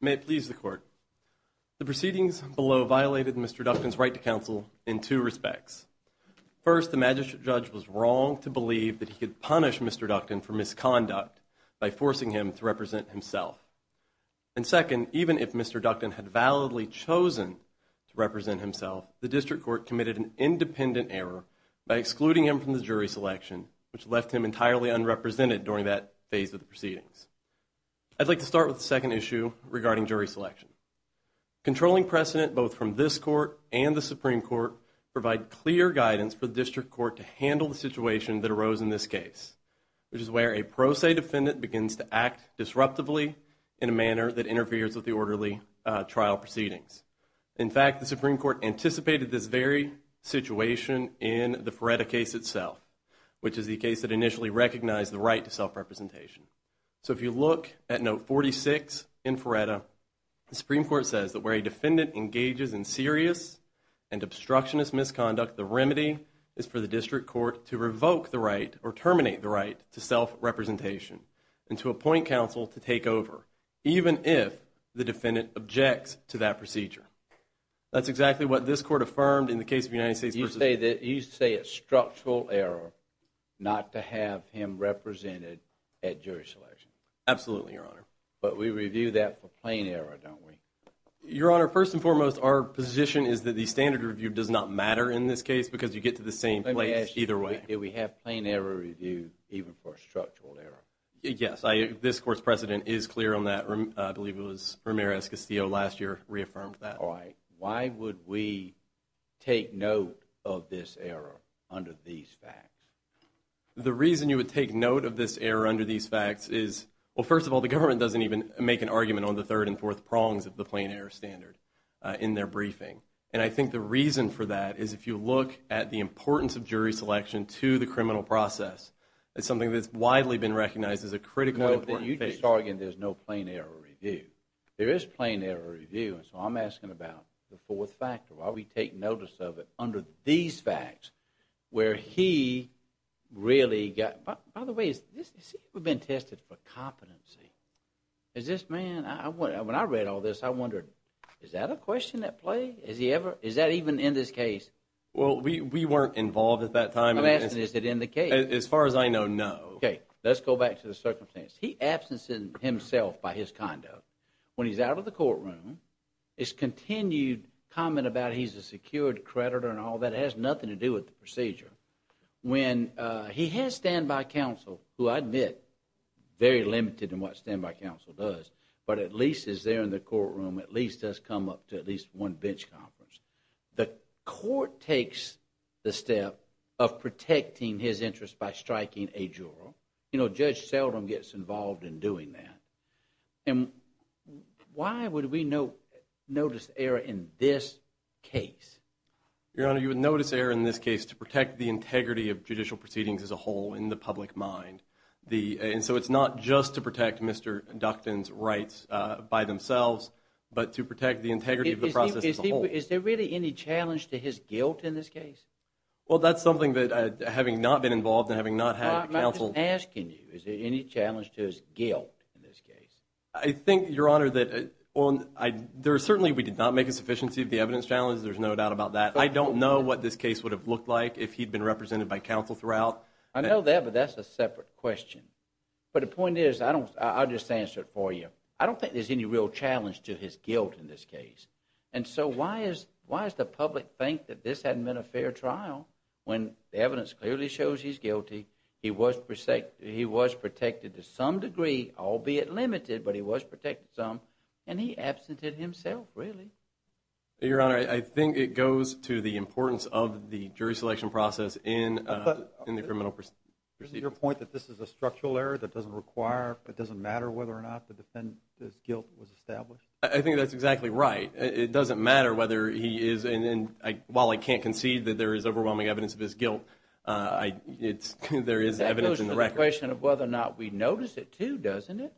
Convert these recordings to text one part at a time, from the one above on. May it please the court. The proceedings below violated Mr. Ductan's right to counsel in two respects. First, the magistrate judge was wrong to believe that he could punish Mr. Ductan for misconduct by forcing him to represent himself. And second, even if Mr. Ductan had validly chosen to represent himself, the district court committed an independent error by excluding him from the jury selection, which left him entirely unrepresented during that phase of the proceedings. I'd like to start with the second issue regarding jury selection. Controlling precedent both from this court and the Supreme Court provide clear guidance for the district court to handle the situation that arose in this case, which is where a pro se defendant begins to act disruptively in a manner that interferes with the orderly trial proceedings. In fact, the Supreme Court anticipated this very situation in the Feretta case itself, which is the case that initially recognized the right to self-representation. So if you look at note 46 in Feretta, the Supreme Court says that where a defendant engages in serious and obstructionist misconduct, the remedy is for the district court to revoke the right or terminate the right to self-representation and to appoint counsel to take over, even if the defendant objects to that procedure. That's exactly what this court affirmed in the case of the United States. You say it's structural error not to have him represented at jury selection. Absolutely, Your Honor. But we review that for plain error, don't we? Your Honor, first and foremost, our position is that the standard review does not matter in this case because you get to the same place either way. Did we have plain error review even for structural error? Yes, this court's precedent is clear on that. I believe it was Ramirez-Castillo last year reaffirmed that. All right. Why would we take note of this error under these facts? The reason you would take note of this error under these facts is, well, first of all, the government doesn't even make an argument on the third and fourth prongs of the plain error standard in their briefing. And I think the reason for that is if you look at the importance of jury selection to the criminal process, it's something that's widely been recognized as a critical and important issue. Your Honor, you just argued there's no plain error review. There is plain error review, and so I'm asking about the fourth factor. Why would we take notice of it under these facts where he really got – by the way, has he ever been tested for competency? Is this man – when I read all this, I wondered, is that a question at play? Is he ever – is that even in this case? Well, we weren't involved at that time. I'm asking, is it in the case? As far as I know, no. Okay. Let's go back to the circumstance. He absences himself by his conduct. When he's out of the courtroom, it's continued comment about he's a secured creditor and all that. It has nothing to do with the procedure. When he has standby counsel, who I admit, very limited in what standby counsel does, but at least is there in the courtroom, at least has come up to at least one bench conference. The court takes the step of protecting his interest by striking a juror. You know, Judge Seldom gets involved in doing that. And why would we notice error in this case? Your Honor, you would notice error in this case to protect the integrity of judicial proceedings as a whole in the public mind. And so it's not just to protect Mr. Ducton's rights by themselves, but to protect the integrity of the process as a whole. Is there really any challenge to his guilt in this case? Well, that's something that having not been involved and having not had counsel. I'm asking you, is there any challenge to his guilt in this case? I think, Your Honor, that certainly we did not make a sufficiency of the evidence challenge. There's no doubt about that. I don't know what this case would have looked like if he'd been represented by counsel throughout. I know that, but that's a separate question. But the point is, I'll just answer it for you. I don't think there's any real challenge to his guilt in this case. And so why does the public think that this hadn't been a fair trial when the evidence clearly shows he's guilty, he was protected to some degree, albeit limited, but he was protected some, and he absented himself, really? Your Honor, I think it goes to the importance of the jury selection process in the criminal proceedings. Isn't your point that this is a structural error that doesn't require, it doesn't matter whether or not the defendant's guilt was established? I think that's exactly right. It doesn't matter whether he is, and while I can't concede that there is overwhelming evidence of his guilt, there is evidence in the record. That goes to the question of whether or not we notice it, too, doesn't it?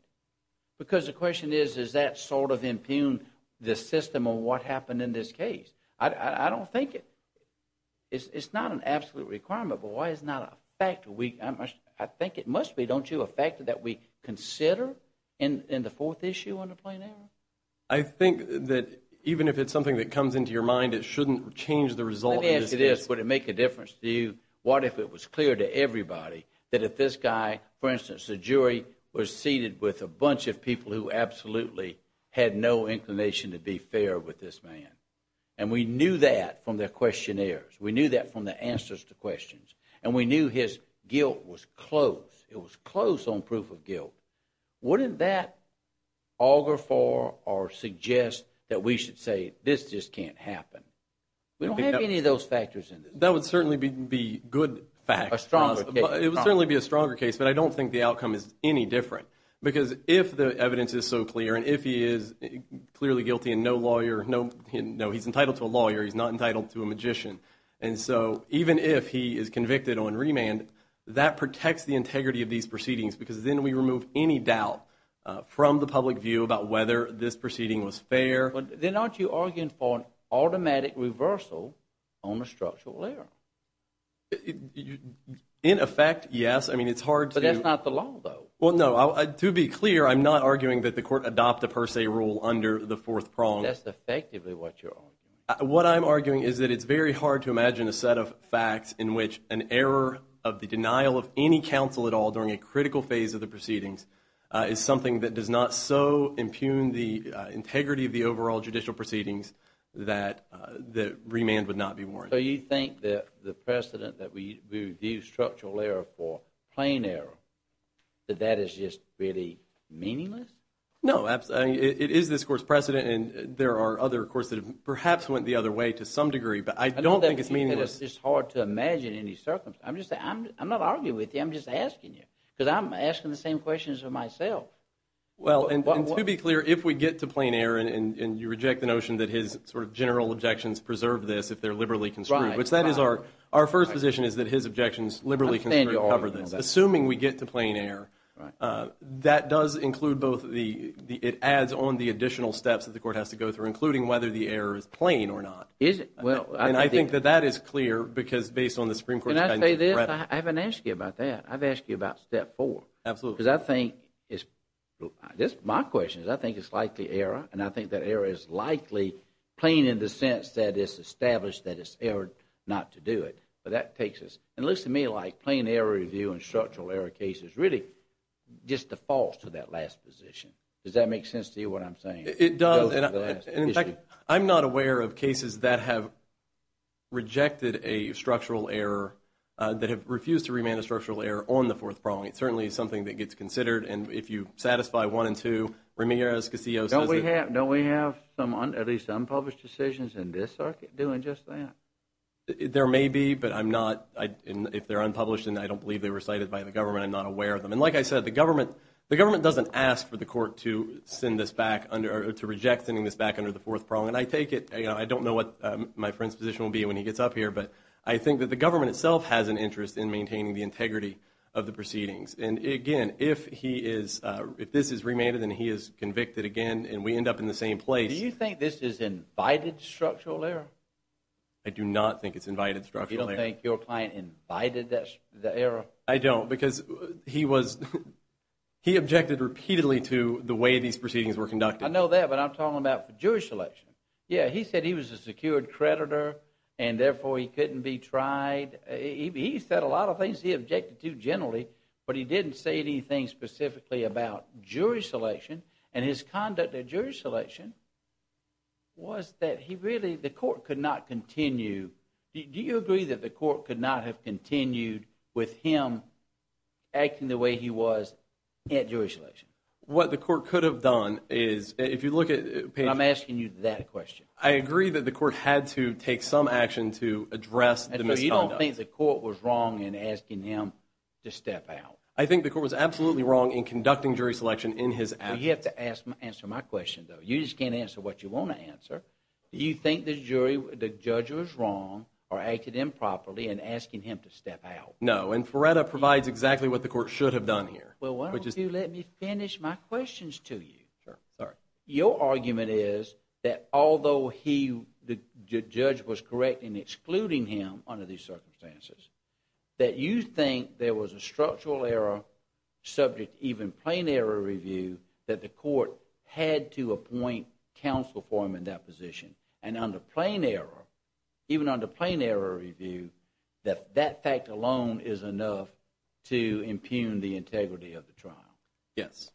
Because the question is, does that sort of impugn the system on what happened in this case? I don't think it's not an absolute requirement, but why is it not a factor? I think it must be, don't you, a factor that we consider in the fourth issue on the plain error? I think that even if it's something that comes into your mind, it shouldn't change the result in this case. Let me ask you this, would it make a difference to you, what if it was clear to everybody that if this guy, for instance, the jury, was seated with a bunch of people who absolutely had no inclination to be fair with this man, and we knew that from their questionnaires, we knew that from the answers to questions, and we knew his guilt was close, it was close on proof of guilt, wouldn't that auger for or suggest that we should say this just can't happen? We don't have any of those factors in this case. That would certainly be a good fact. A stronger case. It would certainly be a stronger case, but I don't think the outcome is any different. Because if the evidence is so clear and if he is clearly guilty and no lawyer, no, he's entitled to a lawyer, he's not entitled to a magician, and so even if he is convicted on remand, that protects the integrity of these proceedings because then we remove any doubt from the public view about whether this proceeding was fair. Then aren't you arguing for an automatic reversal on the structural error? In effect, yes. I mean, it's hard to – But that's not the law, though. Well, no. To be clear, I'm not arguing that the court adopt a per se rule under the fourth prong. That's effectively what you're arguing. What I'm arguing is that it's very hard to imagine a set of facts in which an error of the denial of any counsel at all during a critical phase of the proceedings is something that does not so impugn the integrity of the overall judicial proceedings that remand would not be warranted. So you think that the precedent that we view structural error for plain error, that that is just really meaningless? No. It is this court's precedent and there are other courts that have perhaps went the other way to some degree, but I don't think it's meaningless. I know that because it's hard to imagine any circumstance. I'm not arguing with you. I'm just asking you because I'm asking the same questions of myself. Well, and to be clear, if we get to plain error and you reject the notion that his sort of general objections preserve this if they're liberally construed, which that is our first position is that his objections liberally construe and cover this. Assuming we get to plain error, that does include both the adds on the additional steps that the court has to go through, including whether the error is plain or not. Is it? And I think that that is clear because based on the Supreme Court's guidance. Can I say this? I haven't asked you about that. I've asked you about step four. Absolutely. Because I think it's my question is I think it's likely error, and I think that error is likely plain in the sense that it's established that it's error not to do it. But that takes us. It looks to me like plain error review and structural error cases really just defaults to that last position. Does that make sense to you what I'm saying? It does. In fact, I'm not aware of cases that have rejected a structural error, that have refused to remand a structural error on the fourth prong. It certainly is something that gets considered. And if you satisfy one and two, Ramirez-Casillo says that. Don't we have at least unpublished decisions in this circuit doing just that? There may be, but I'm not. If they're unpublished and I don't believe they were cited by the government, I'm not aware of them. And like I said, the government doesn't ask for the court to send this back or to reject sending this back under the fourth prong. And I take it. I don't know what my friend's position will be when he gets up here, but I think that the government itself has an interest in maintaining the integrity of the proceedings. And again, if this is remanded and he is convicted again and we end up in the same place. Do you think this is invited structural error? I do not think it's invited structural error. You don't think your client invited the error? I don't because he objected repeatedly to the way these proceedings were conducted. I know that, but I'm talking about the Jewish election. Yeah, he said he was a secured creditor and therefore he couldn't be tried. He said a lot of things he objected to generally, but he didn't say anything specifically about Jewish election and his conduct at Jewish election was that he really, the court could not continue. Do you agree that the court could not have continued with him acting the way he was at Jewish election? What the court could have done is, if you look at… I'm asking you that question. I agree that the court had to take some action to address the misconduct. Do you think the court was wrong in asking him to step out? I think the court was absolutely wrong in conducting jury selection in his absence. You have to answer my question, though. You just can't answer what you want to answer. Do you think the judge was wrong or acted improperly in asking him to step out? No, and Feretta provides exactly what the court should have done here. Well, why don't you let me finish my questions to you? Sure. Your argument is that although the judge was correct in excluding him under these circumstances, that you think there was a structural error, subject to even plain error review, that the court had to appoint counsel for him in that position. And under plain error, even under plain error review, that that fact alone is enough to impugn the integrity of the trial. Yes.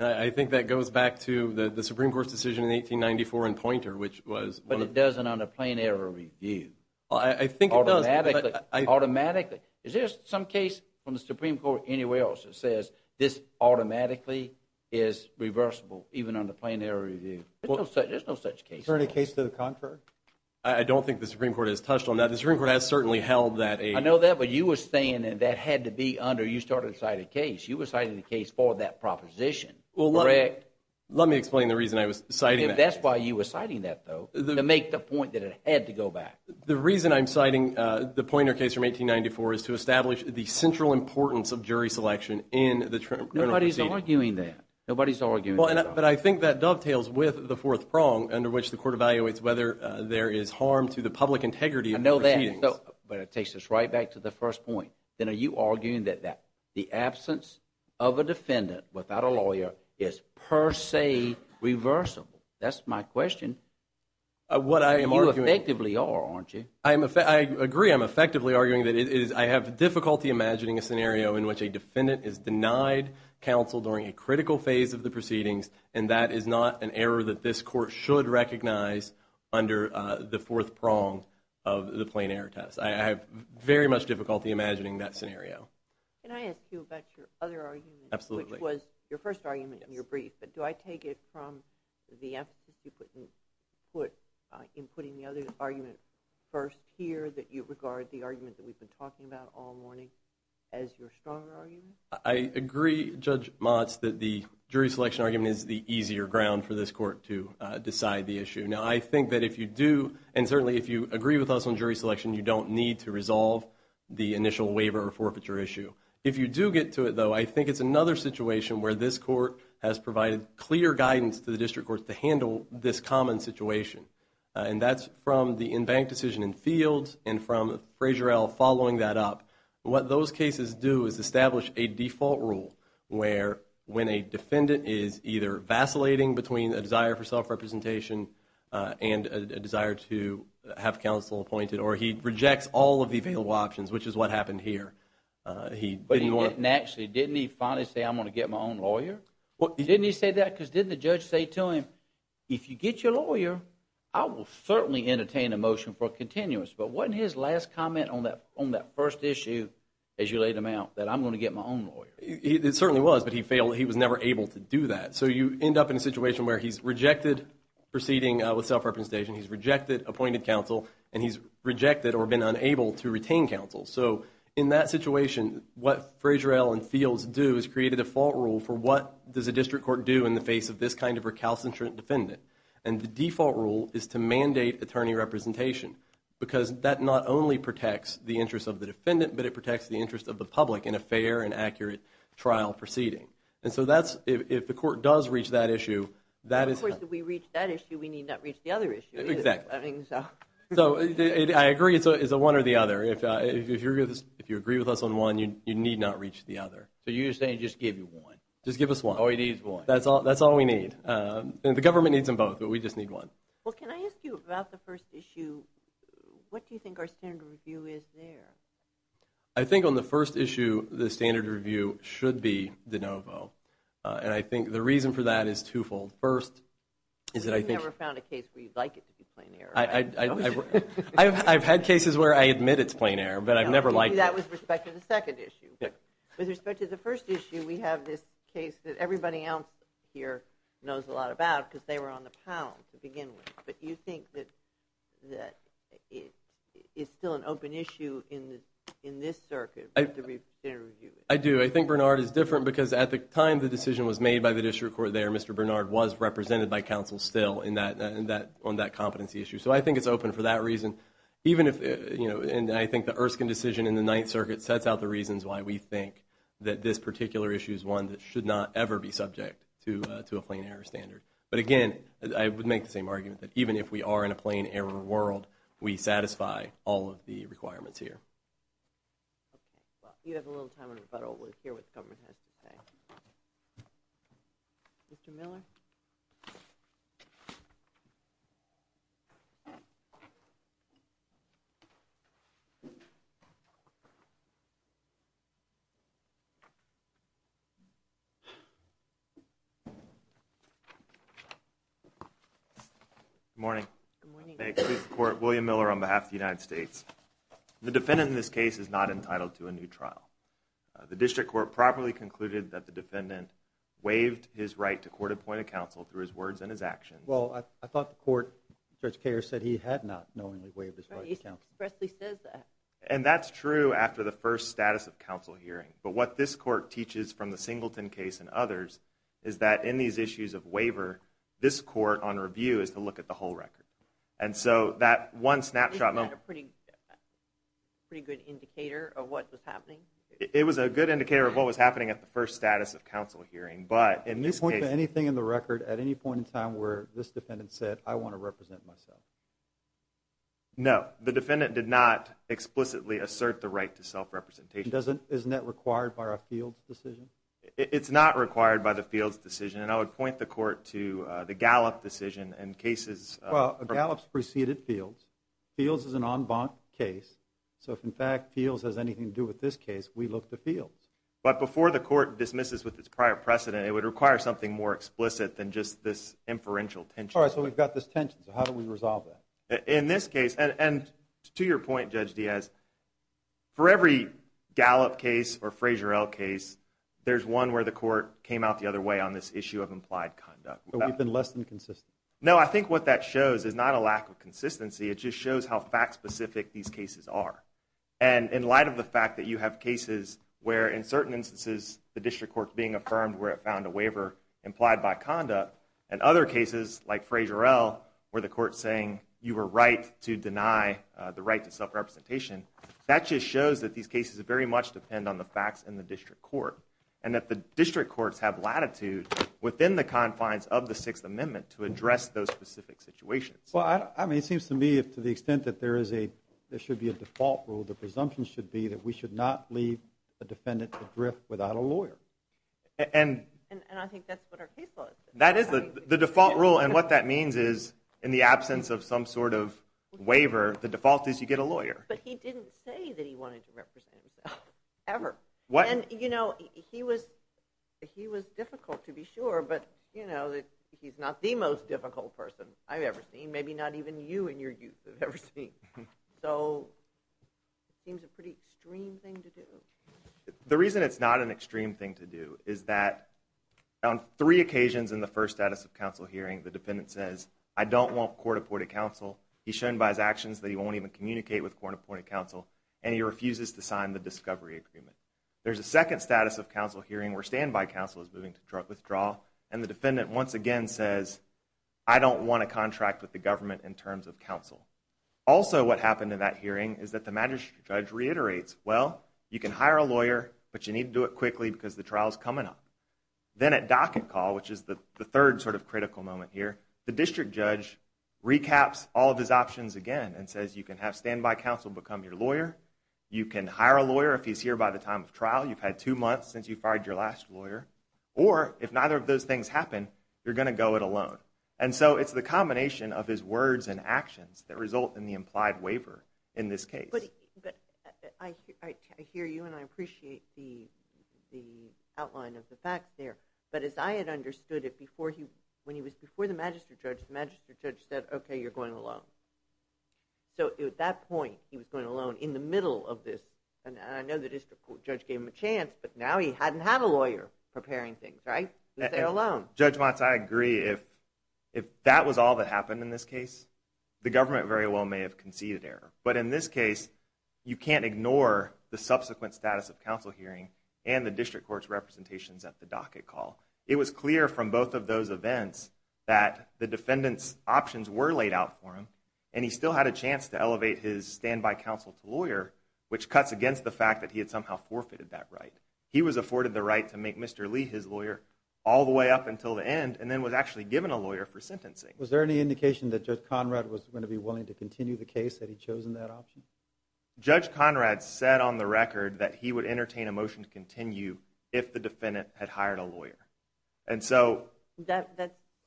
I think that goes back to the Supreme Court's decision in 1894 in Poynter, which was— But it doesn't under plain error review. I think it does— Automatically. Automatically. Is there some case from the Supreme Court anywhere else that says this automatically is reversible, even under plain error review? There's no such case. Is there any case to the contrary? I don't think the Supreme Court has touched on that. The Supreme Court has certainly held that a— I know that, but you were saying that that had to be under—you started to cite a case. You were citing a case for that proposition, correct? Let me explain the reason I was citing that. That's why you were citing that, though, to make the point that it had to go back. The reason I'm citing the Poynter case from 1894 is to establish the central importance of jury selection in the criminal proceeding. Nobody's arguing that. Nobody's arguing that. But I think that dovetails with the fourth prong under which the court evaluates whether there is harm to the public integrity of the proceedings. I know that, but it takes us right back to the first point. Then are you arguing that the absence of a defendant without a lawyer is per se reversible? That's my question. You effectively are, aren't you? I agree. I'm effectively arguing that I have difficulty imagining a scenario in which a defendant is denied counsel during a critical phase of the proceedings, and that is not an error that this court should recognize under the fourth prong of the plain error test. I have very much difficulty imagining that scenario. Can I ask you about your other argument? Absolutely. Which was your first argument in your brief, but do I take it from the emphasis you put in putting the other argument first here, that you regard the argument that we've been talking about all morning as your stronger argument? I agree, Judge Motz, that the jury selection argument is the easier ground for this court to decide the issue. Now, I think that if you do, and certainly if you agree with us on jury selection, you don't need to resolve the initial waiver or forfeiture issue. If you do get to it, though, I think it's another situation where this court has provided clear guidance to the district courts to handle this common situation, and that's from the in-bank decision in fields and from Frazier et al. following that up. What those cases do is establish a default rule where when a defendant is either vacillating between a desire for self-representation and a desire to have counsel appointed, or he rejects all of the available options, which is what happened here, he didn't want – Actually, didn't he finally say, I'm going to get my own lawyer? Didn't he say that? Because didn't the judge say to him, if you get your lawyer, I will certainly entertain a motion for a continuous. But wasn't his last comment on that first issue, as you laid them out, that I'm going to get my own lawyer? It certainly was, but he failed. He was never able to do that. So you end up in a situation where he's rejected proceeding with self-representation. He's rejected appointed counsel, and he's rejected or been unable to retain counsel. So in that situation, what Frazier et al. and fields do is create a default rule for what does a district court do in the face of this kind of recalcitrant defendant. And the default rule is to mandate attorney representation because that not only protects the interest of the defendant, but it protects the interest of the public in a fair and accurate trial proceeding. And so that's – if the court does reach that issue, that is – Of course, if we reach that issue, we need not reach the other issue. Exactly. So I agree it's a one or the other. If you agree with us on one, you need not reach the other. So you're saying just give you one. Just give us one. Oh, he needs one. That's all we need. The government needs them both, but we just need one. Well, can I ask you about the first issue? What do you think our standard review is there? I think on the first issue, the standard review should be de novo. And I think the reason for that is twofold. First is that I think – You've never found a case where you'd like it to be plain error. I've had cases where I admit it's plain error, but I've never liked it. That was with respect to the second issue. With respect to the first issue, we have this case that everybody else here knows a lot about because they were on the pound to begin with. But you think that it's still an open issue in this circuit with the standard review? I do. I think Bernard is different because at the time the decision was made by the district court there, Mr. Bernard was represented by counsel still on that competency issue. So I think it's open for that reason. And I think the Erskine decision in the Ninth Circuit sets out the reasons why we think that this particular issue is one that should not ever be subject to a plain error standard. But again, I would make the same argument that even if we are in a plain error world, we satisfy all of the requirements here. Well, we have a little time in rebuttal. We'll hear what the government has to say. Mr. Miller? Good morning. Good morning. I'm a court of William Miller on behalf of the United States. The defendant in this case is not entitled to a new trial. The district court properly concluded that the defendant waived his right to court-appointed counsel through his words and his actions. Well, I thought the court, Judge Kahr, said he had not knowingly waived his right to court-appointed counsel. And that's true after the first status of counsel hearing. But what this court teaches from the Singleton case and others is that in these issues of waiver, this court on review is to look at the whole record. And so that one snapshot moment... Isn't that a pretty good indicator of what was happening? It was a good indicator of what was happening at the first status of counsel hearing, but in this case... Did you point to anything in the record at any point in time where this defendant said, I want to represent myself? No. The defendant did not explicitly assert the right to self-representation. Isn't that required by our Fields decision? It's not required by the Fields decision. And I would point the court to the Gallup decision in cases... Well, Gallup's preceded Fields. Fields is an en banc case. So if, in fact, Fields has anything to do with this case, we look to Fields. But before the court dismisses with its prior precedent, it would require something more explicit than just this inferential tension. All right, so we've got this tension. So how do we resolve that? In this case, and to your point, Judge Diaz, for every Gallup case or Frazier-El case, there's one where the court came out the other way on this issue of implied conduct. So we've been less than consistent? No, I think what that shows is not a lack of consistency. It just shows how fact-specific these cases are. And in light of the fact that you have cases where, in certain instances, the district court's being affirmed where it found a waiver implied by conduct, and other cases, like Frazier-El, where the court's saying you were right to deny the right to self-representation, that just shows that these cases very much depend on the facts in the district court and that the district courts have latitude within the confines of the Sixth Amendment to address those specific situations. Well, I mean, it seems to me to the extent that there should be a default rule, the presumption should be that we should not leave a defendant to drift without a lawyer. And I think that's what our case law is. That is the default rule, and what that means is in the absence of some sort of waiver, the default is you get a lawyer. But he didn't say that he wanted to represent himself, ever. And, you know, he was difficult, to be sure, but he's not the most difficult person I've ever seen, maybe not even you in your youth have ever seen. So it seems a pretty extreme thing to do. The reason it's not an extreme thing to do is that on three occasions in the first status of counsel hearing, the defendant says, I don't want court-appointed counsel. He's shown by his actions that he won't even communicate with court-appointed counsel, and he refuses to sign the discovery agreement. There's a second status of counsel hearing where standby counsel is moving to withdraw, and the defendant once again says, I don't want a contract with the government in terms of counsel. Also what happened in that hearing is that the magistrate judge reiterates, well, you can hire a lawyer, but you need to do it quickly because the trial is coming up. Then at docket call, which is the third sort of critical moment here, the district judge recaps all of his options again and says, you can have standby counsel become your lawyer, you can hire a lawyer if he's here by the time of trial, you've had two months since you fired your last lawyer, or if neither of those things happen, you're going to go it alone. And so it's the combination of his words and actions that result in the implied waiver in this case. But I hear you and I appreciate the outline of the facts there, but as I had understood it when he was before the magistrate judge, the magistrate judge said, okay, you're going alone. So at that point he was going alone in the middle of this, and I know the district judge gave him a chance, but now he hadn't had a lawyer preparing things, right? He was there alone. Judge Motz, I agree. If that was all that happened in this case, the government very well may have conceded error. But in this case, you can't ignore the subsequent status of counsel hearing and the district court's representations at the docket call. It was clear from both of those events that the defendant's options were laid out for him, and he still had a chance to elevate his standby counsel to lawyer, which cuts against the fact that he had somehow forfeited that right. He was afforded the right to make Mr. Lee his lawyer all the way up until the end and then was actually given a lawyer for sentencing. Was there any indication that Judge Conrad was going to be willing to continue the case that he chose in that option? Judge Conrad said on the record that he would entertain a motion to continue if the defendant had hired a lawyer. That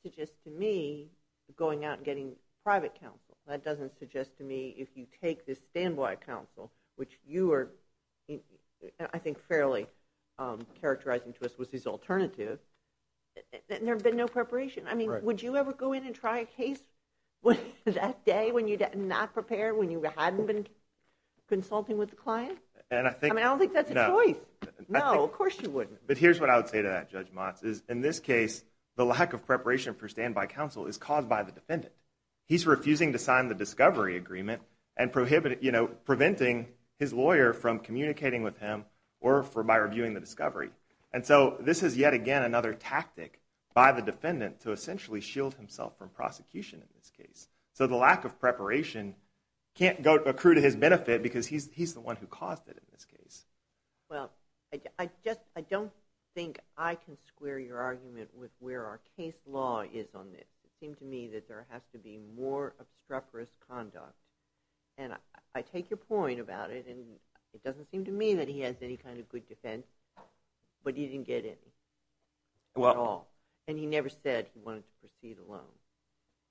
suggests to me going out and getting private counsel. That doesn't suggest to me if you take the standby counsel, which you are I think fairly characterizing to us was his alternative, there had been no preparation. I mean, would you ever go in and try a case that day when you're not prepared, when you hadn't been consulting with the client? I mean, I don't think that's a choice. No, of course you wouldn't. But here's what I would say to that, Judge Motz, is in this case the lack of preparation for standby counsel is caused by the defendant. He's refusing to sign the discovery agreement and preventing his lawyer from communicating with him or by reviewing the discovery. And so this is yet again another tactic by the defendant to essentially shield himself from prosecution in this case. So the lack of preparation can't accrue to his benefit because he's the one who caused it in this case. Well, I don't think I can square your argument with where our case law is on this. It seems to me that there has to be more obstreperous conduct. And I take your point about it, and it doesn't seem to me that he has any kind of good defense, but he didn't get in at all. And he never said he wanted to proceed alone.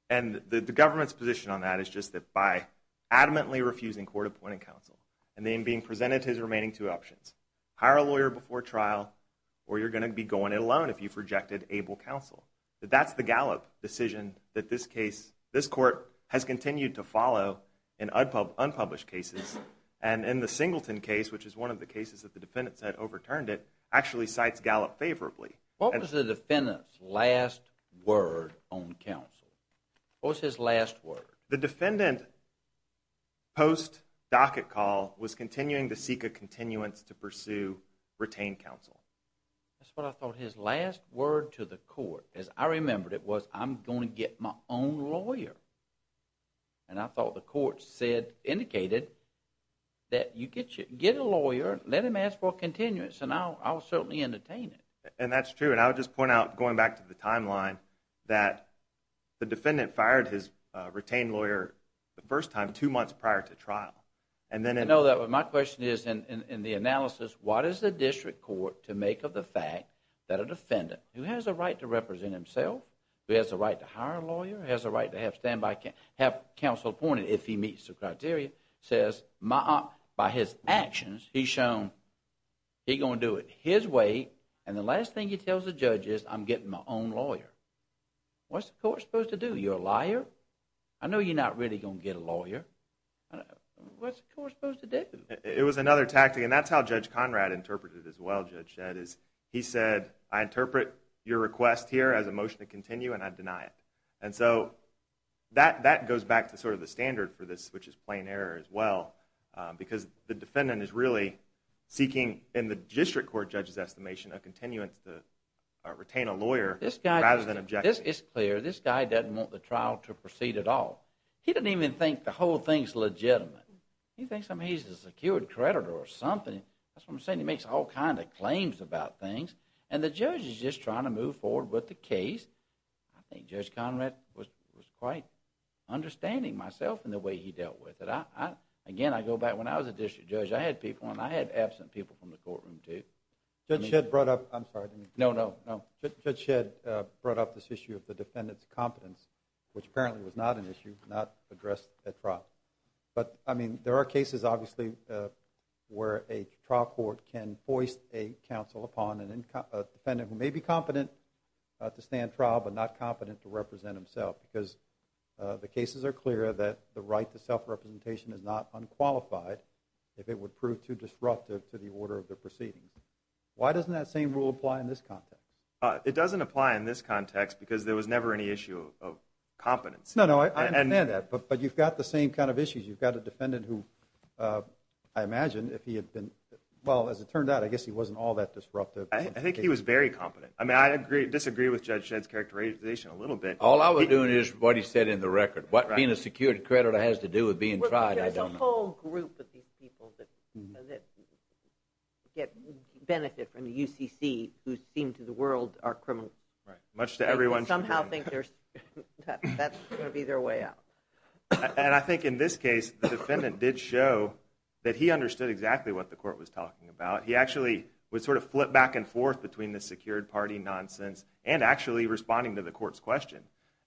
And the government's position on that is just that by adamantly refusing court-appointed counsel and then being presented his remaining two options, hire a lawyer before trial, or you're going to be going it alone if you've rejected able counsel, that that's the gallop decision that this case, this court has continued to follow in unpublished cases and in the Singleton case, which is one of the cases that the defendant said overturned it, actually cites gallop favorably. What was the defendant's last word on counsel? What was his last word? The defendant, post docket call, was continuing to seek a continuance to pursue retained counsel. That's what I thought. His last word to the court, as I remembered it, was I'm going to get my own lawyer. And I thought the court said, indicated, that you get a lawyer, let him ask for a continuance, and I'll certainly entertain it. And that's true. And I would just point out, going back to the timeline, that the defendant fired his retained lawyer the first time, two months prior to trial. I know that, but my question is in the analysis, what is the district court to make of the fact who has a right to hire a lawyer, who has a right to have counsel appointed if he meets the criteria, says by his actions he's shown he's going to do it his way, and the last thing he tells the judge is I'm getting my own lawyer. What's the court supposed to do? You're a liar. I know you're not really going to get a lawyer. What's the court supposed to do? It was another tactic, and that's how Judge Conrad interpreted it as well, Judge Shedd. He said I interpret your request here as a motion to continue, and I deny it. And so that goes back to sort of the standard for this, which is plain error as well, because the defendant is really seeking, in the district court judge's estimation, a continuance to retain a lawyer rather than objecting. It's clear. This guy doesn't want the trial to proceed at all. He doesn't even think the whole thing's legitimate. He thinks he's a secured creditor or something. That's what I'm saying. He makes all kinds of claims about things, and the judge is just trying to move forward with the case. I think Judge Conrad was quite understanding myself in the way he dealt with it. Again, I go back when I was a district judge. I had people, and I had absent people from the courtroom too. Judge Shedd brought up this issue of the defendant's competence, which apparently was not an issue, not addressed at trial. But, I mean, there are cases, obviously, where a trial court can foist a counsel upon a defendant who may be competent to stand trial but not competent to represent himself, because the cases are clear that the right to self-representation is not unqualified if it would prove too disruptive to the order of the proceedings. Why doesn't that same rule apply in this context? It doesn't apply in this context because there was never any issue of competence. No, no, I understand that, but you've got the same kind of issues. You've got a defendant who, I imagine, if he had been... Well, as it turned out, I guess he wasn't all that disruptive. I think he was very competent. I mean, I disagree with Judge Shedd's characterization a little bit. All I was doing is what he said in the record. What being a secured creditor has to do with being tried, I don't know. There's a whole group of these people that benefit from the UCC who seem to the world are criminals. Right, much to everyone's... Somehow think that's going to be their way out. And I think in this case, the defendant did show that he understood exactly what the court was talking about. He actually was sort of flipped back and forth between the secured party nonsense and actually responding to the court's question.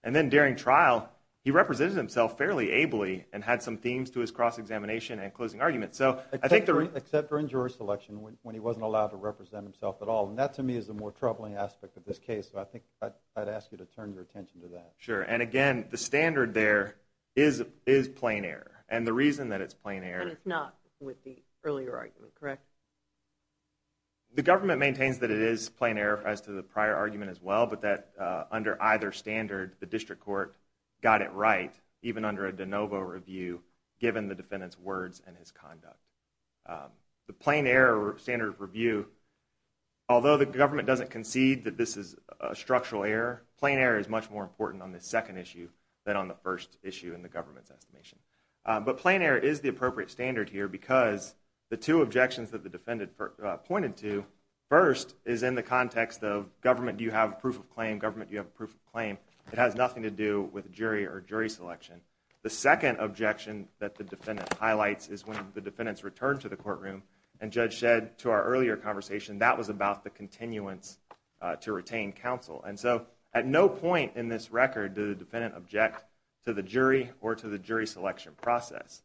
And then during trial, he represented himself fairly ably and had some themes to his cross-examination and closing argument. Except during jury selection when he wasn't allowed to represent himself at all. And that, to me, is the more troubling aspect of this case. So I think I'd ask you to turn your attention to that. Sure, and again, the standard there is plain error. And the reason that it's plain error... And it's not with the earlier argument, correct? The government maintains that it is plain error as to the prior argument as well, but that under either standard, the district court got it right, even under a de novo review, given the defendant's words and his conduct. The plain error standard review, although the government doesn't concede that this is a structural error, plain error is much more important on this second issue than on the first issue in the government's estimation. But plain error is the appropriate standard here because the two objections that the defendant pointed to, first is in the context of, government, do you have proof of claim? Government, do you have proof of claim? It has nothing to do with jury or jury selection. The second objection that the defendant highlights is when the defendants returned to the courtroom and Judge Shedd, to our earlier conversation, that was about the continuance to retain counsel. And so at no point in this record did the defendant object to the jury or to the jury selection process.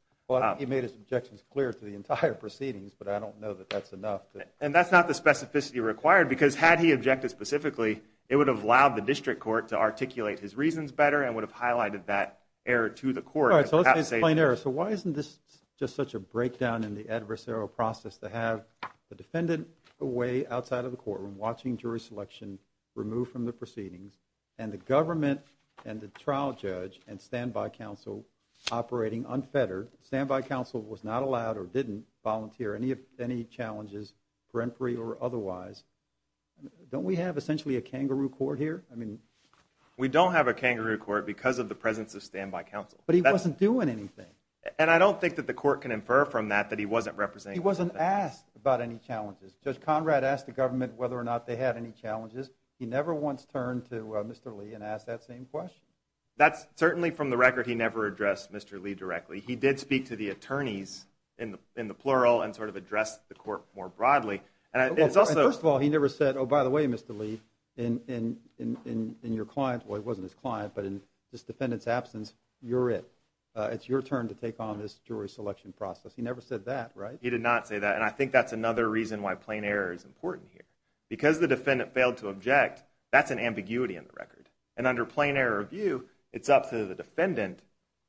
He made his objections clear to the entire proceedings, but I don't know that that's enough. And that's not the specificity required because had he objected specifically, it would have allowed the district court to articulate his reasons better and would have highlighted that error to the court. So let's explain error. So why isn't this just such a breakdown in the adversarial process to have the defendant away outside of the courtroom watching jury selection removed from the proceedings and the government and the trial judge and standby counsel operating unfettered? Standby counsel was not allowed or didn't volunteer any challenges for inquiry or otherwise. Don't we have essentially a kangaroo court here? I mean... We don't have a kangaroo court because of the presence of standby counsel. But he wasn't doing anything. And I don't think that the court can infer from that that he wasn't representing anything. He wasn't asked about any challenges. Judge Conrad asked the government whether or not they had any challenges. He never once turned to Mr. Lee and asked that same question. That's certainly from the record he never addressed Mr. Lee directly. He did speak to the attorneys in the plural and sort of addressed the court more broadly. And it's also... First of all, he never said, oh, by the way, Mr. Lee, in your client's, well, it wasn't his client, but in this defendant's absence, you're it. It's your turn to take on this jury selection process. He never said that, right? He did not say that. And I think that's another reason why plain error is important here. Because the defendant failed to object, that's an ambiguity in the record. And under plain error view, it's up to the defendant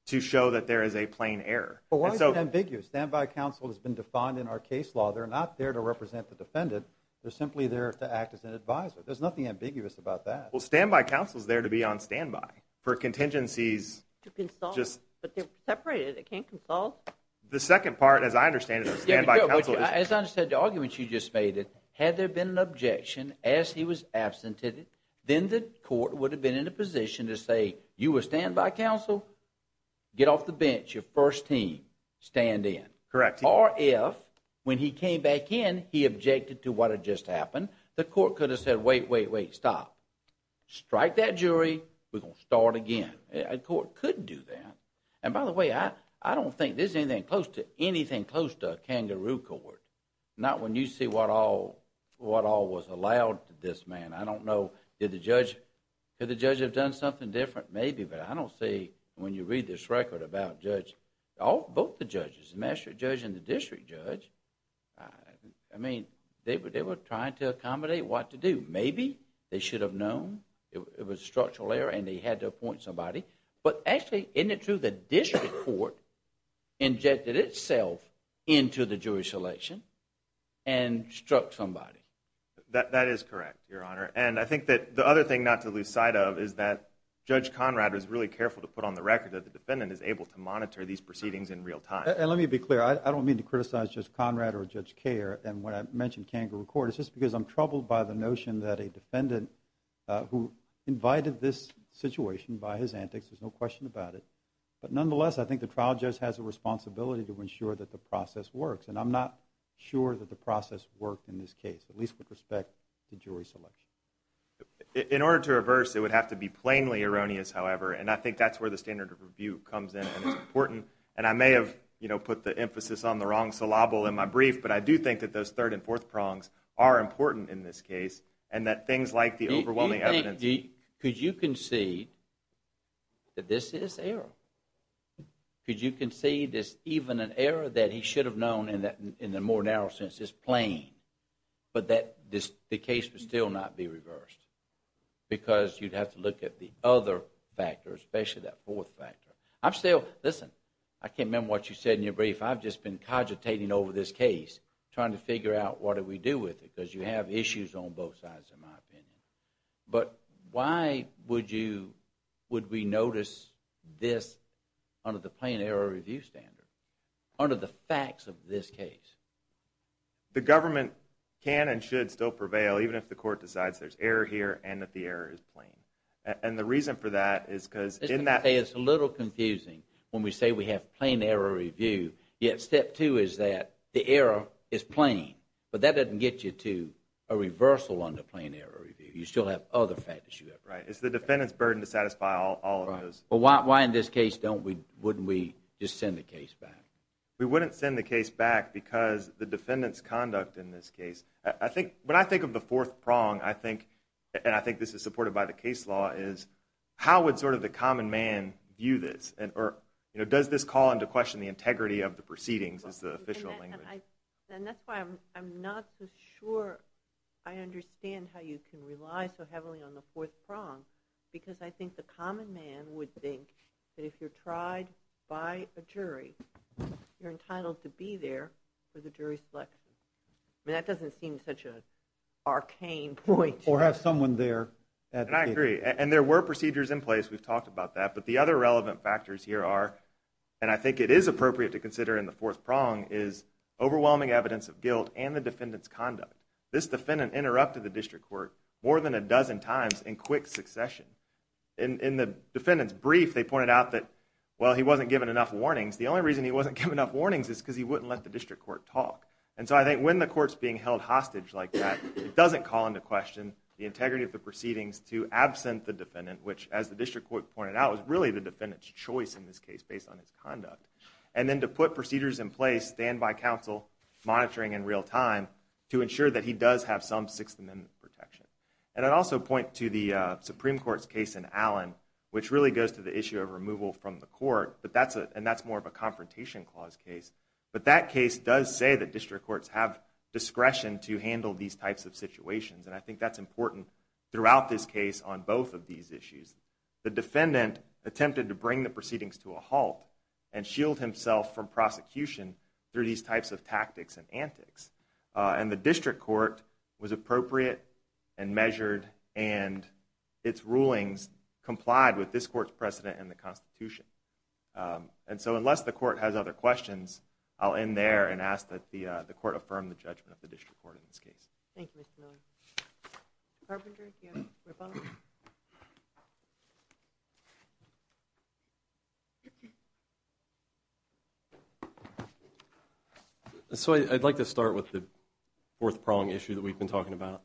to show that there is a plain error. But why is it ambiguous? Standby counsel has been defined in our case law. They're not there to represent the defendant. They're simply there to act as an advisor. There's nothing ambiguous about that. Well, standby counsel's there to be on standby for contingencies. To consult. But they're separated. They can't consult. The second part, as I understand it, of standby counsel is... As I understand the argument you just made, had there been an objection as he was absented, then the court would have been in a position to say, you were standby counsel, get off the bench. You're first team. Stand in. Correct. Or if, when he came back in, he objected to what had just happened, the court could have said, wait, wait, wait, stop. Strike that jury. We're going to start again. A court could do that. And by the way, I don't think this is anything close to anything close to a kangaroo court. Not when you see what all was allowed to this man. I don't know. Did the judge... Could the judge have done something different? Maybe. But I don't see, when you read this record about judge... Both the judges, the magistrate judge and the district judge, I mean, they were trying to accommodate what to do. Maybe they should have known. It was a structural error, and they had to appoint somebody. But actually, isn't it true the district court injected itself into the Jewish election and struck somebody? That is correct, Your Honor. And I think that the other thing not to lose sight of is that Judge Conrad was really careful to put on the record that the defendant is able to monitor these proceedings in real time. And let me be clear. I don't mean to criticize Judge Conrad or Judge Kerr. And when I mention kangaroo court, it's just because I'm troubled by the notion that a defendant who invited this situation by his antics, there's no question about it. But nonetheless, I think the trial judge has a responsibility to ensure that the process works. And I'm not sure that the process worked in this case, at least with respect to Jewish election. In order to reverse, it would have to be plainly erroneous, however. And I think that's where the standard of review comes in and is important. And I may have put the emphasis on the wrong syllable in my brief, but I do think that those third and fourth prongs are important in this case, and that things like the overwhelming evidence... Do you think... Could you concede that this is error? Could you concede that it's even an error that he should have known, in the more narrow sense, it's plain, but that the case would still not be reversed? Because you'd have to look at the other factors, especially that fourth factor. I'm still... Listen, I can't remember what you said in your brief. I've just been cogitating over this case, trying to figure out what do we do with it, because you have issues on both sides, in my opinion. But why would we notice this under the plain error review standard, under the facts of this case? The government can and should still prevail, even if the court decides there's error here and that the error is plain. And the reason for that is because... It's a little confusing when we say we have plain error review, yet step two is that the error is plain. But that doesn't get you to a reversal under plain error review. You still have other factors. Right, it's the defendant's burden to satisfy all of those. Why in this case wouldn't we just send the case back? We wouldn't send the case back because the defendant's conduct in this case... When I think of the fourth prong, and I think this is supported by the case law, is how would the common man view this? Or does this call into question the integrity of the proceedings, is the official language? And that's why I'm not so sure I understand how you can rely so heavily on the fourth prong because I think the common man would think that if you're tried by a jury, you're entitled to be there for the jury's selection. I mean, that doesn't seem such an arcane point. Or have someone there... And I agree. And there were procedures in place, we've talked about that, but the other relevant factors here are, and I think it is appropriate to consider in the fourth prong, is overwhelming evidence of guilt and the defendant's conduct. This defendant interrupted the district court more than a dozen times in quick succession. In the defendant's brief, they pointed out that, well, he wasn't given enough warnings. The only reason he wasn't given enough warnings is because he wouldn't let the district court talk. And so I think when the court's being held hostage like that, it doesn't call into question the integrity of the proceedings to absent the defendant, which, as the district court pointed out, was really the defendant's choice in this case based on his conduct. And then to put procedures in place, stand by counsel, monitoring in real time, to ensure that he does have some Sixth Amendment protection. And I'd also point to the Supreme Court's case in Allen, which really goes to the issue of removal from the court, and that's more of a confrontation clause case. But that case does say that district courts have discretion to handle these types of situations, and I think that's important throughout this case on both of these issues. The defendant attempted to bring the proceedings to a halt and shield himself from prosecution through these types of tactics and antics. And the district court was appropriate and measured, and its rulings complied with this court's precedent and the Constitution. And so unless the court has other questions, I'll end there and ask that the court affirm the judgment of the district court in this case. Thank you, Mr. Miller. Carpenter, you have a rebuttal? So I'd like to start with the fourth prong issue that we've been talking about.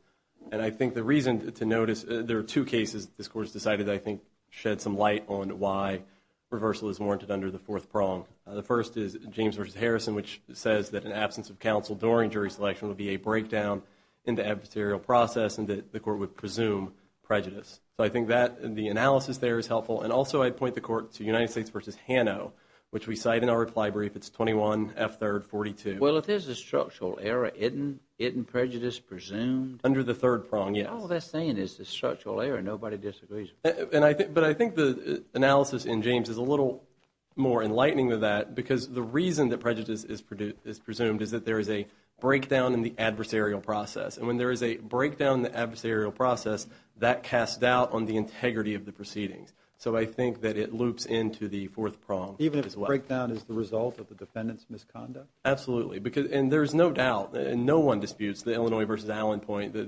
And I think the reason to notice, there are two cases this court has decided, I think, shed some light on why reversal is warranted under the fourth prong. The first is James v. Harrison, which says that an absence of counsel during jury selection would be a breakdown in the adversarial process and that the court would presume prejudice. So I think the analysis there is helpful. And also I'd point the court to United States v. Hanno, which we cite in our reply brief. It's 21F3rd42. Well, if there's a structural error, isn't prejudice presumed? Under the third prong, yes. All they're saying is there's a structural error. Nobody disagrees. But I think the analysis in James is a little more enlightening than that because the reason that prejudice is presumed is that there is a breakdown in the adversarial process. And when there is a breakdown in the adversarial process, that casts doubt on the integrity of the proceedings. So I think that it loops into the fourth prong as well. Even if the breakdown is the result of the defendant's misconduct? Absolutely. And there's no doubt. No one disputes the Illinois v. Allen point that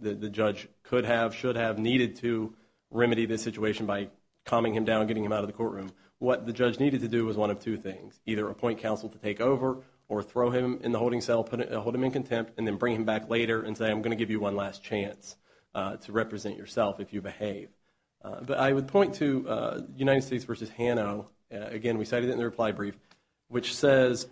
the judge could have, should have, needed to remedy this situation by calming him down and getting him out of the courtroom. What the judge needed to do was one of two things, either appoint counsel to take over or throw him in the holding cell, hold him in contempt, and then bring him back later and say, I'm going to give you one last chance to represent yourself if you behave. But I would point to United States v. Hano. Again, we cited it in the reply brief, which says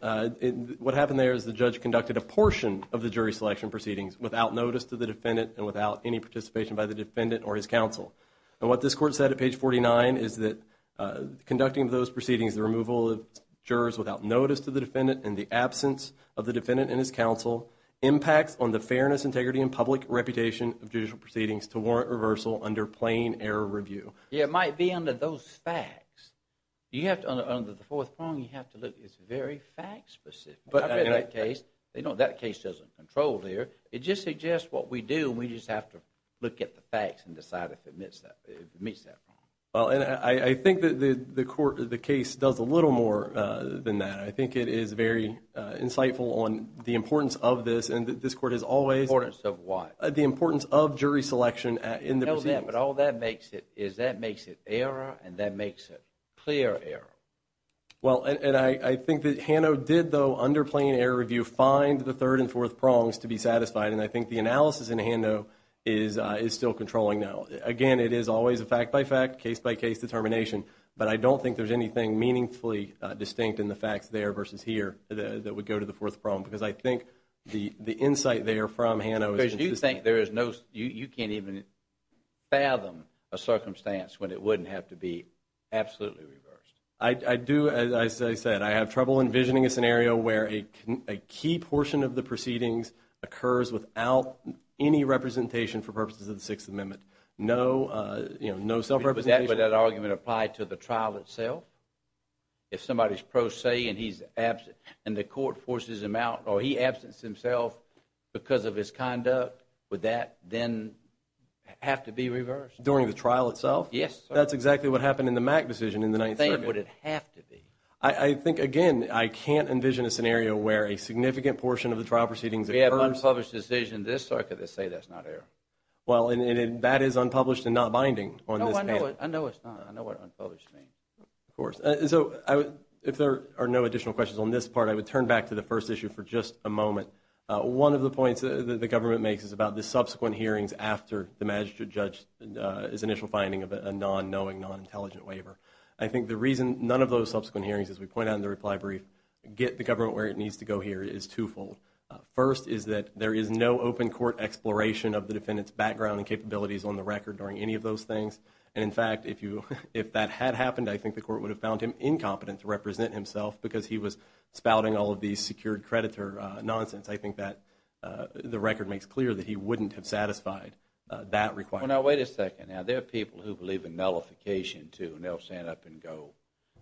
what happened there is the judge conducted a portion of the jury selection proceedings without notice to the defendant and without any participation by the defendant or his counsel. And what this court said at page 49 is that conducting those proceedings, the removal of jurors without notice to the defendant and the absence of the defendant and his counsel, impacts on the fairness, integrity, and public reputation of judicial proceedings to warrant reversal under plain error review. Yeah, it might be under those facts. You have to, under the fourth point, you have to look, it's very fact-specific. I've read that case. They don't, that case doesn't control there. It just suggests what we do, and we just have to look at the facts and decide if it meets that, if it meets that. Well, and I think that the court, the case does a little more than that. I think it is very insightful on the importance of this, and this court has always... The importance of what? The importance of jury selection in the proceedings. I know that, but all that makes it, is that makes it error, and that makes it clear error. Well, and I think that Hano did, though, under plain error review, find the third and fourth prongs to be satisfied, and I think the analysis in Hano is still controlling now. Again, it is always a fact-by-fact, case-by-case determination, but I don't think there's anything meaningfully distinct in the facts there versus here that would go to the fourth prong, because I think the insight there from Hano is consistent. Because you think there is no... You can't even fathom a circumstance when it wouldn't have to be absolutely reversed. I do, as I said. I have trouble envisioning a scenario where a key portion of the proceedings occurs without any representation for purposes of the Sixth Amendment. No, you know, no self-representation. Would that argument apply to the trial itself? If somebody's pro se, and he's absent, and the court forces him out, or he absents himself because of his conduct, would that then have to be reversed? During the trial itself? Yes, sir. That's exactly what happened in the Mack decision in the Ninth Circuit. What do you think would it have to be? I think, again, I can't envision a scenario where a significant portion of the trial proceedings occurs... We have unpublished decisions in this circuit that say that's not error. Well, and that is unpublished and not binding on this panel. No, I know it's not. I know what unpublished means. Of course. So, if there are no additional questions on this part, I would turn back to the first issue for just a moment. One of the points that the government makes is about the subsequent hearings after the magistrate judge's initial finding of a non-knowing, non-intelligent waiver. I think the reason none of those subsequent hearings, as we point out in the reply brief, get the government where it needs to go here is twofold. First is that there is no open court exploration of the defendant's background and capabilities on the record during any of those things. And, in fact, if that had happened, I think the court would have found him incompetent to represent himself because he was spouting all of these secured creditor nonsense. I think that the record makes clear that he wouldn't have satisfied that requirement. Well, now, wait a second. Now, there are people who believe in nullification, too, and they'll stand up and go,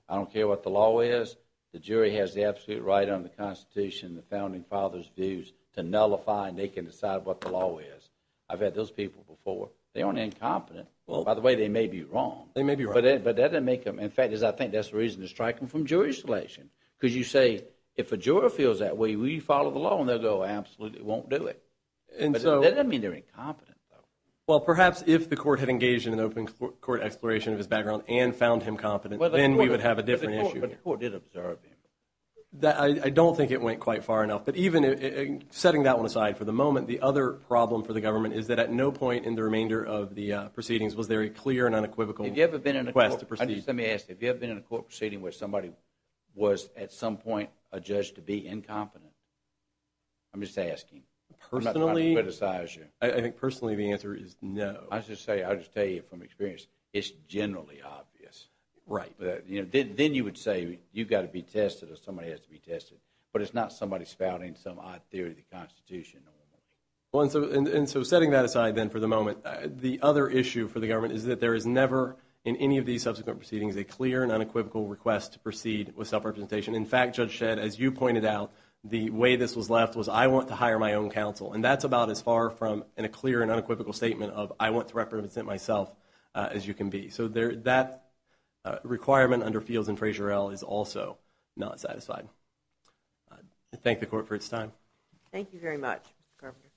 I don't care what the law is. The jury has the absolute right under the Constitution, the founding fathers' views, to nullify and they can decide what the law is. I've had those people before. They aren't incompetent. By the way, they may be wrong. They may be wrong. But that doesn't make them. In fact, I think that's the reason they're striking from jury selection because you say, if a juror feels that way, we follow the law, and they'll go, absolutely, we won't do it. But that doesn't mean they're incompetent, though. Well, perhaps if the court had engaged in an open court exploration of his background and found him competent, then we would have a different issue. But the court did observe him. I don't think it went quite far enough. But even setting that one aside for the moment, the other problem for the government is that at no point in the remainder of the proceedings was there a clear and unequivocal request to proceed. Let me ask you. Have you ever been in a court proceeding where somebody was, at some point, a judge to be incompetent? I'm just asking. I'm not trying to criticize you. I think, personally, the answer is no. I'll just tell you from experience, it's generally obvious. Right. Then you would say, you've got to be tested or somebody has to be tested. But it's not somebody spouting some odd theory of the Constitution normally. And so setting that aside then for the moment, the other issue for the government is that there is never, in any of these subsequent proceedings, a clear and unequivocal request to proceed with self-representation. In fact, Judge Shedd, as you pointed out, the way this was left was, I want to hire my own counsel. And that's about as far from a clear and unequivocal statement of, I want to represent myself as you can be. So that requirement under Fields and Frazier-El is also not satisfied. I thank the court for its time. Thank you very much, Mr. Carpenter.